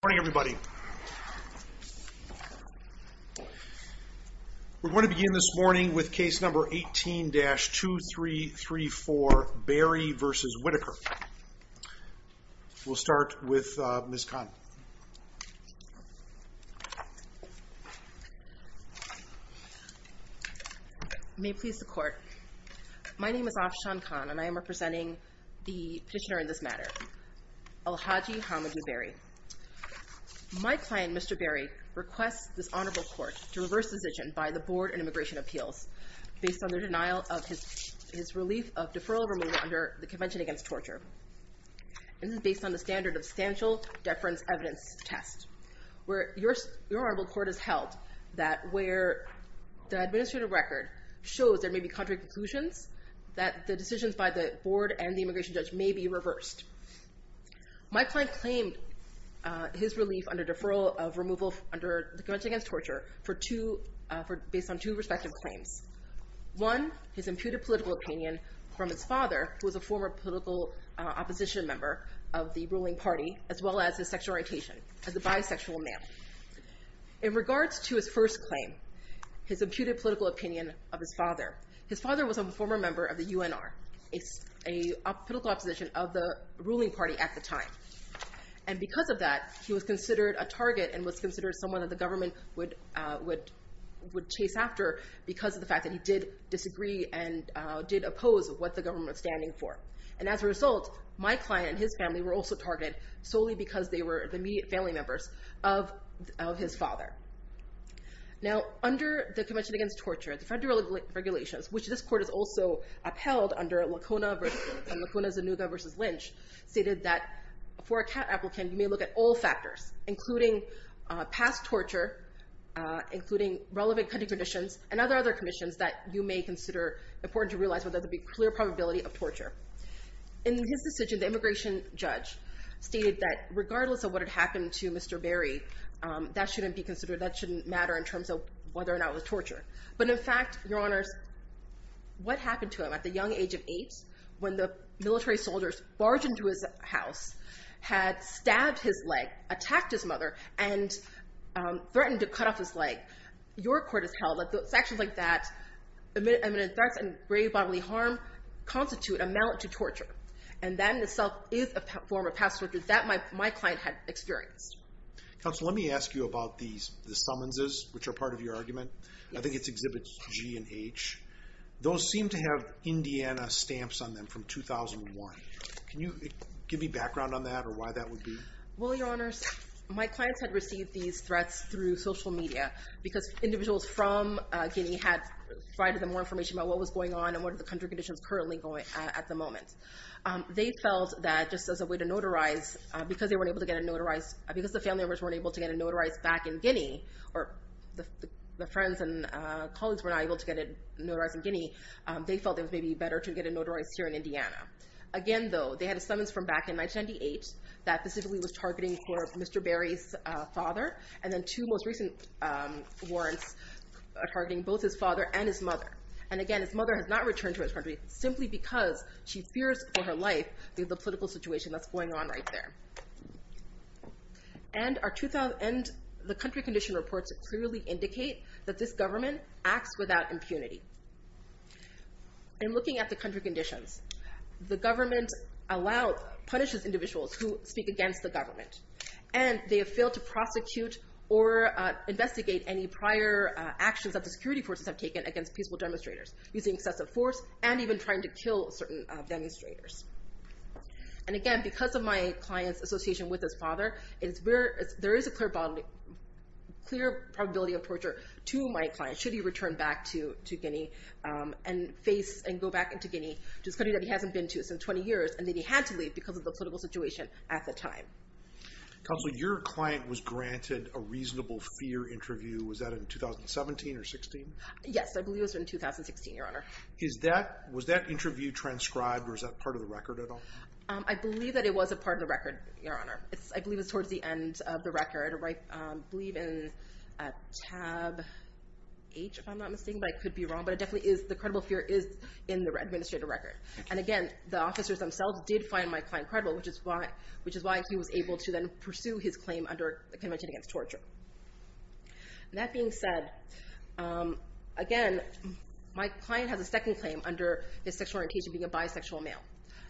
Good morning, everybody. We're going to begin this morning with case number 18-2334, Barry v. Whitaker. We'll start with Ms. Khan. May it please the Court, my name is Afshan Khan, and I am representing the petitioner in this matter, Al Hadj Hamidou Barry. My client, Mr. Barry, requests this Honorable Court to reverse the decision by the Board on Immigration Appeals based on their denial of his relief of deferral of removal under the Convention Against Torture. This is based on the standard of substantial deference evidence test, where your Honorable Court has held that where the administrative record shows there may be contrary conclusions, that the decisions by the Board and the immigration judge may be reversed. My client claimed his relief under deferral of removal under the Convention Against Torture based on two respective claims. One, his imputed political opinion from his father, who was a former political opposition member of the ruling party, as well as his sexual orientation as a bisexual male. In regards to his first claim, his imputed political opinion of his father, his father was a former member of the UNR, a political opposition of the ruling party at the time. And because of that, he was considered a target and was considered someone that the government would chase after because of the fact that he did disagree and did oppose what the government was standing for. And as a result, my client and his family were also targeted solely because they were the immediate family members of his father. Now, under the Convention Against Torture, the federal regulations, which this Court has also upheld under Lacuna-Zanuga v. Lynch, stated that for a CAT applicant, you may look at all factors, including past torture, including relevant cutting conditions, and other commissions that you may consider important to realize whether there is a clear probability of torture. In his decision, the immigration judge stated that regardless of what had happened to Mr. Berry, that shouldn't be considered, that shouldn't matter in terms of whether or not it was torture. But in fact, Your Honors, what happened to him at the young age of eight when the military soldiers barged into his house, had stabbed his leg, attacked his mother, and threatened to cut off his leg? Your Court has held that those actions like that, imminent threats and grave bodily harm, constitute a mount to torture. And that in itself is a form of past torture that my client had experienced. Counsel, let me ask you about these, the summonses, which are part of your argument. I think it exhibits G and H. Those seem to have Indiana stamps on them from 2001. Can you give me background on that or why that would be? Well, Your Honors, my clients had received these threats through social media because individuals from Guinea had provided them more information about what was going on and what are the country conditions currently at the moment. They felt that just as a way to notarize, because they weren't able to get a notarized, because the family members weren't able to get a notarized back in Guinea, or the friends and colleagues were not able to get a notarized in Guinea, they felt it was maybe better to get a notarized here in Indiana. Again, though, they had a summons from back in 1998 that specifically was targeting for Mr. Berry's father, and then two most recent warrants are targeting both his father and his mother. And again, his mother has not returned to his country simply because she fears for her life due to the political situation that's going on right there. And the country condition reports clearly indicate that this government acts without impunity. In looking at the country conditions, the government punishes individuals who speak against the government. And they have failed to prosecute or investigate any prior actions that the security forces have taken against peaceful demonstrators using excessive force and even trying to kill certain demonstrators. And again, because of my client's association with his father, there is a clear probability of torture to my client should he return back to Guinea and go back into Guinea, to this country that he hasn't been to in 20 years, and that he had to leave because of the political situation at the time. Counsel, your client was granted a reasonable fear interview. Was that in 2017 or 2016? Yes, I believe it was in 2016, Your Honor. Was that interview transcribed or is that part of the record at all? I believe that it was a part of the record, Your Honor. I believe it's towards the end of the record. I believe in tab H, if I'm not mistaken, but I could be wrong. But it definitely is, the credible fear is in the administrative record. And again, the officers themselves did find my client credible, which is why he was able to then pursue his claim under the Convention Against Torture. That being said, again, my client has a second claim under his sexual orientation being a bisexual male.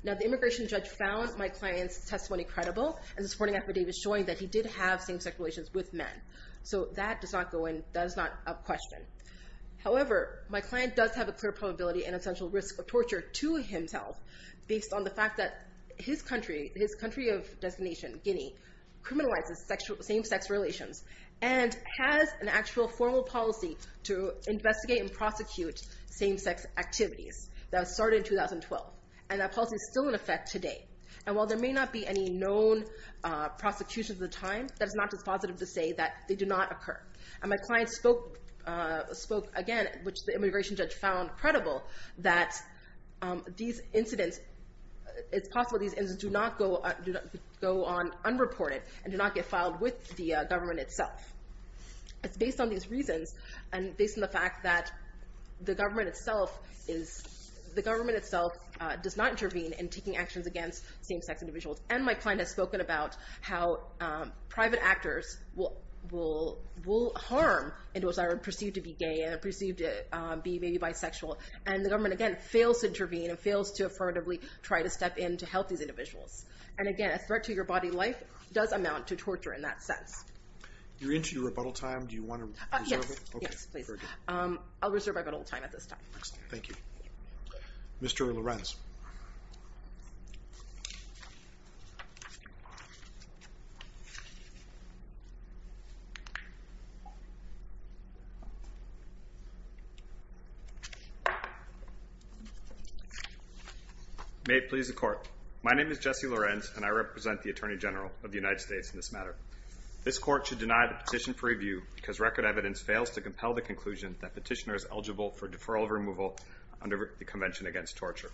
Now, the immigration judge found my client's testimony credible as a supporting affidavit showing that he did have same-sex relations with men. So that does not go in, that is not up question. However, my client does have a clear probability and essential risk of torture to himself based on the fact that his country of designation, Guinea, criminalizes same-sex relations and has an actual formal policy to investigate and prosecute same-sex activities that started in 2012. And that policy is still in effect today. And while there may not be any known prosecutions at the time, that is not dispositive to say that they do not occur. And my client spoke again, which the immigration judge found credible, that these incidents, it's possible these incidents do not go on unreported and do not get filed with the government itself. It's based on these reasons and based on the fact that the government itself does not intervene in taking actions against same-sex individuals. And my client has spoken about how private actors will harm individuals that are perceived to be gay and perceived to be maybe bisexual. And the government, again, fails to intervene and fails to affirmatively try to step in to help these individuals. And again, a threat to your body life does amount to torture in that sense. You're into your rebuttal time. Do you want to reserve it? Yes. Yes, please. I'll reserve my rebuttal time at this time. Excellent. Thank you. Mr. Lorenz. May it please the Court. My name is Jesse Lorenz, and I represent the Attorney General of the United States in this matter. This Court should deny the petition for review because record evidence fails to compel the conclusion that petitioner is eligible for deferral of removal under the Convention Against Torture.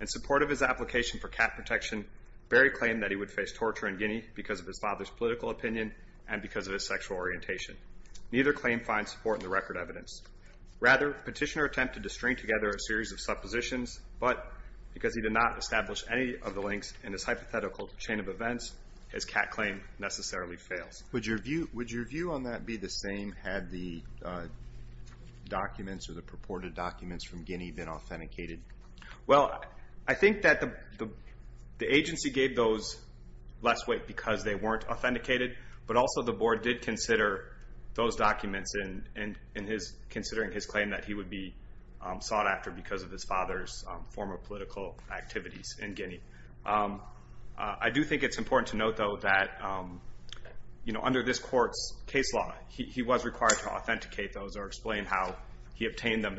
In support of his application for cat protection, Berry claimed that he would face torture in Guinea because of his father's political opinion and because of his sexual orientation. Neither claim finds support in the record evidence. Rather, petitioner attempted to string together a series of suppositions, but because he did not establish any of the links in his hypothetical chain of events, his cat claim necessarily fails. Would your view on that be the same had the documents or the purported documents from Guinea been authenticated? Well, I think that the agency gave those less weight because they weren't authenticated, but also the Board did consider those documents in considering his claim that he would be sought after because of his father's former political activities in Guinea. I do think it's important to note, though, that under this Court's case law, he was required to authenticate those or explain how he obtained them,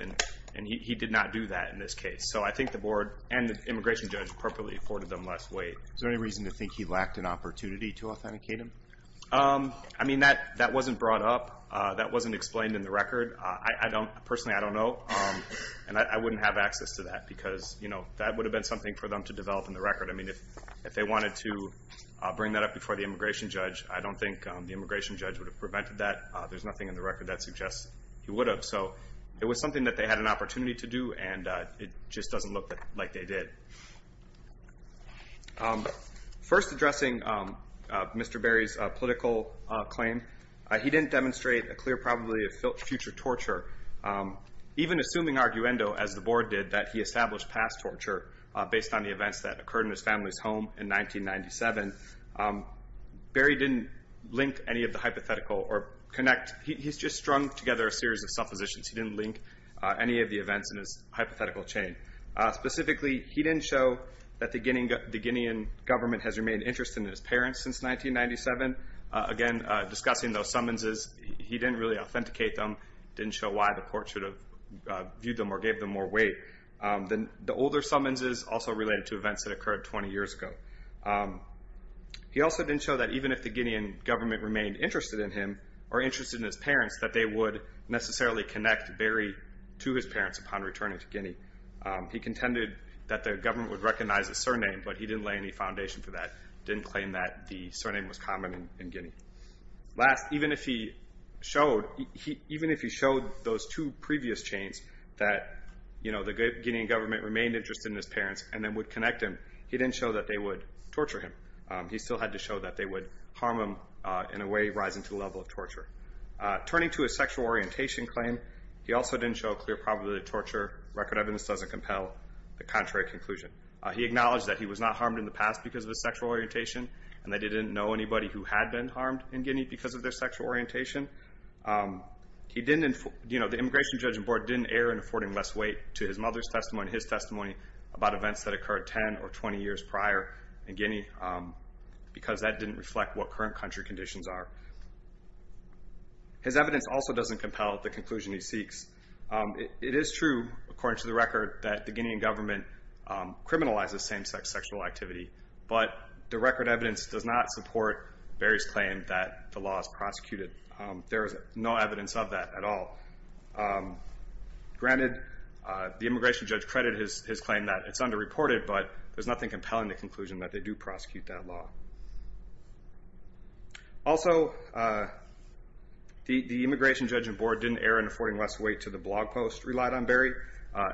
and he did not do that in this case. So I think the Board and the immigration judge appropriately afforded them less weight. Is there any reason to think he lacked an opportunity to authenticate them? I mean, that wasn't brought up. That wasn't explained in the record. Personally, I don't know, and I wouldn't have access to that because, you know, that would have been something for them to develop in the record. I mean, if they wanted to bring that up before the immigration judge, I don't think the immigration judge would have prevented that. There's nothing in the record that suggests he would have. So it was something that they had an opportunity to do, and it just doesn't look like they did. First, addressing Mr. Berry's political claim, he didn't demonstrate a clear probability of future torture. Even assuming arguendo, as the Board did, that he established past torture based on the events that occurred in his family's home in 1997, Berry didn't link any of the hypothetical or connect. He's just strung together a series of suppositions. He didn't link any of the events in his hypothetical chain. Specifically, he didn't show that the Guinean government has remained interested in his parents since 1997. Again, discussing those summonses, he didn't really authenticate them, didn't show why the court should have viewed them or gave them more weight. The older summonses also related to events that occurred 20 years ago. He also didn't show that even if the Guinean government remained interested in him or interested in his parents, that they would necessarily connect Berry to his parents upon returning to Guinea. He contended that the government would recognize his surname, but he didn't lay any foundation for that, didn't claim that the surname was common in Guinea. Last, even if he showed those two previous chains, that the Guinean government remained interested in his parents and then would connect him, he didn't show that they would torture him. He still had to show that they would harm him in a way rising to the level of torture. Turning to his sexual orientation claim, he also didn't show a clear probability of torture. Record evidence doesn't compel the contrary conclusion. He acknowledged that he was not harmed in the past because of his sexual orientation and that he didn't know anybody who had been harmed in Guinea because of their sexual orientation. The Immigration Judging Board didn't err in affording less weight to his mother's testimony and his testimony about events that occurred 10 or 20 years prior in Guinea because that didn't reflect what current country conditions are. His evidence also doesn't compel the conclusion he seeks. It is true, according to the record, that the Guinean government criminalizes same-sex sexual activity, but the record evidence does not support Berry's claim that the law is prosecuted. There is no evidence of that at all. Granted, the immigration judge credited his claim that it's underreported, but there's nothing compelling the conclusion that they do prosecute that law. Also, the Immigration Judging Board didn't err in affording less weight to the blog post relied on Berry.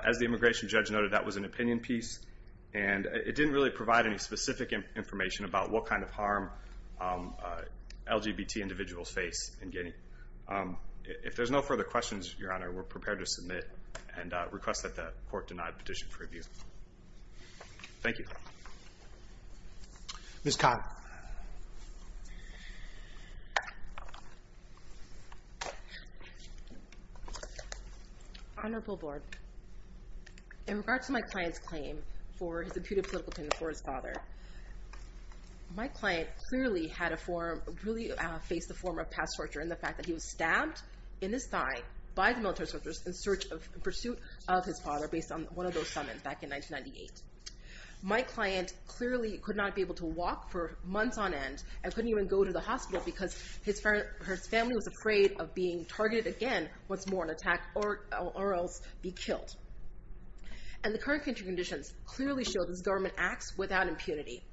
As the immigration judge noted, that was an opinion piece, and it didn't really provide any specific information about what kind of harm LGBT individuals face in Guinea. If there's no further questions, Your Honor, we're prepared to submit and request that the court deny the petition for review. Thank you. Ms. Conner. Honorable Board, in regards to my client's claim for his imputed political opinion for his father, my client clearly had a form, really faced a form of past torture in the fact that he was stabbed in his thigh by the military soldiers in pursuit of his father based on one of those summons back in 1998. My client clearly could not be able to walk for months on end and couldn't even go to the hospital because his family was afraid of being targeted again once more in an attack or else be killed. And the current country conditions clearly show that this government acts without impunity.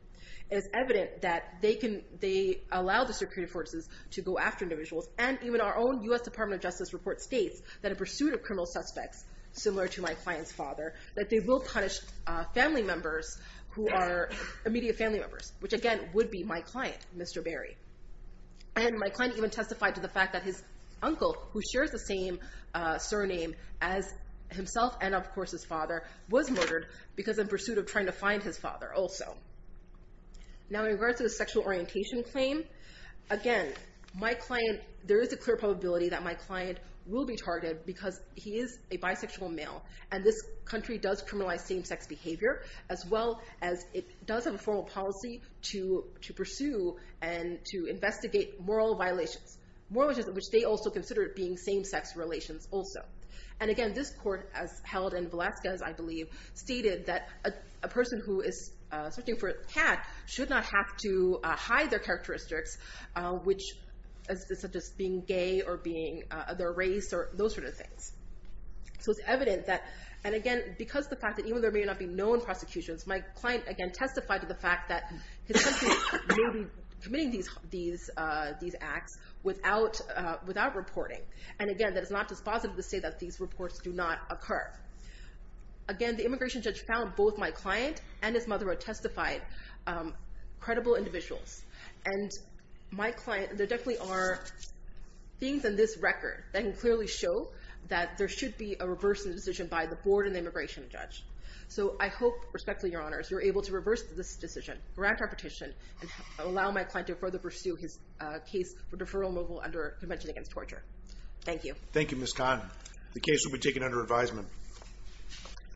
It is evident that they allow the security forces to go after individuals, and even our own U.S. Department of Justice report states that in pursuit of criminal suspects, similar to my client's father, that they will punish family members who are immediate family members, which again would be my client, Mr. Berry. And my client even testified to the fact that his uncle, who shares the same surname as himself and of course his father, was murdered because in pursuit of trying to find his father also. Now in regards to the sexual orientation claim, again, there is a clear probability that my client will be targeted because he is a bisexual male and this country does criminalize same-sex behavior as well as it does have a formal policy to pursue and to investigate moral violations, moral violations which they also consider being same-sex relations also. And again, this court as held in Alaska, as I believe, stated that a person who is searching for attack should not have to hide their characteristics, such as being gay or being of their race or those sort of things. So it's evident that, and again, because of the fact that even though there may not be known prosecutions, my client again testified to the fact that his country may be committing these acts without reporting. And again, that is not dispositive to say that these reports do not occur. Again, the immigration judge found both my client and his mother, who testified, credible individuals. And my client, there definitely are things in this record that can clearly show that there should be a reverse of the decision by the board and the immigration judge. So I hope, respectfully, Your Honors, you're able to reverse this decision, grant our petition, and allow my client to further pursue his case for deferral and removal under Convention Against Torture. Thank you. Thank you, Ms. Kahn. The case will be taken under advisement.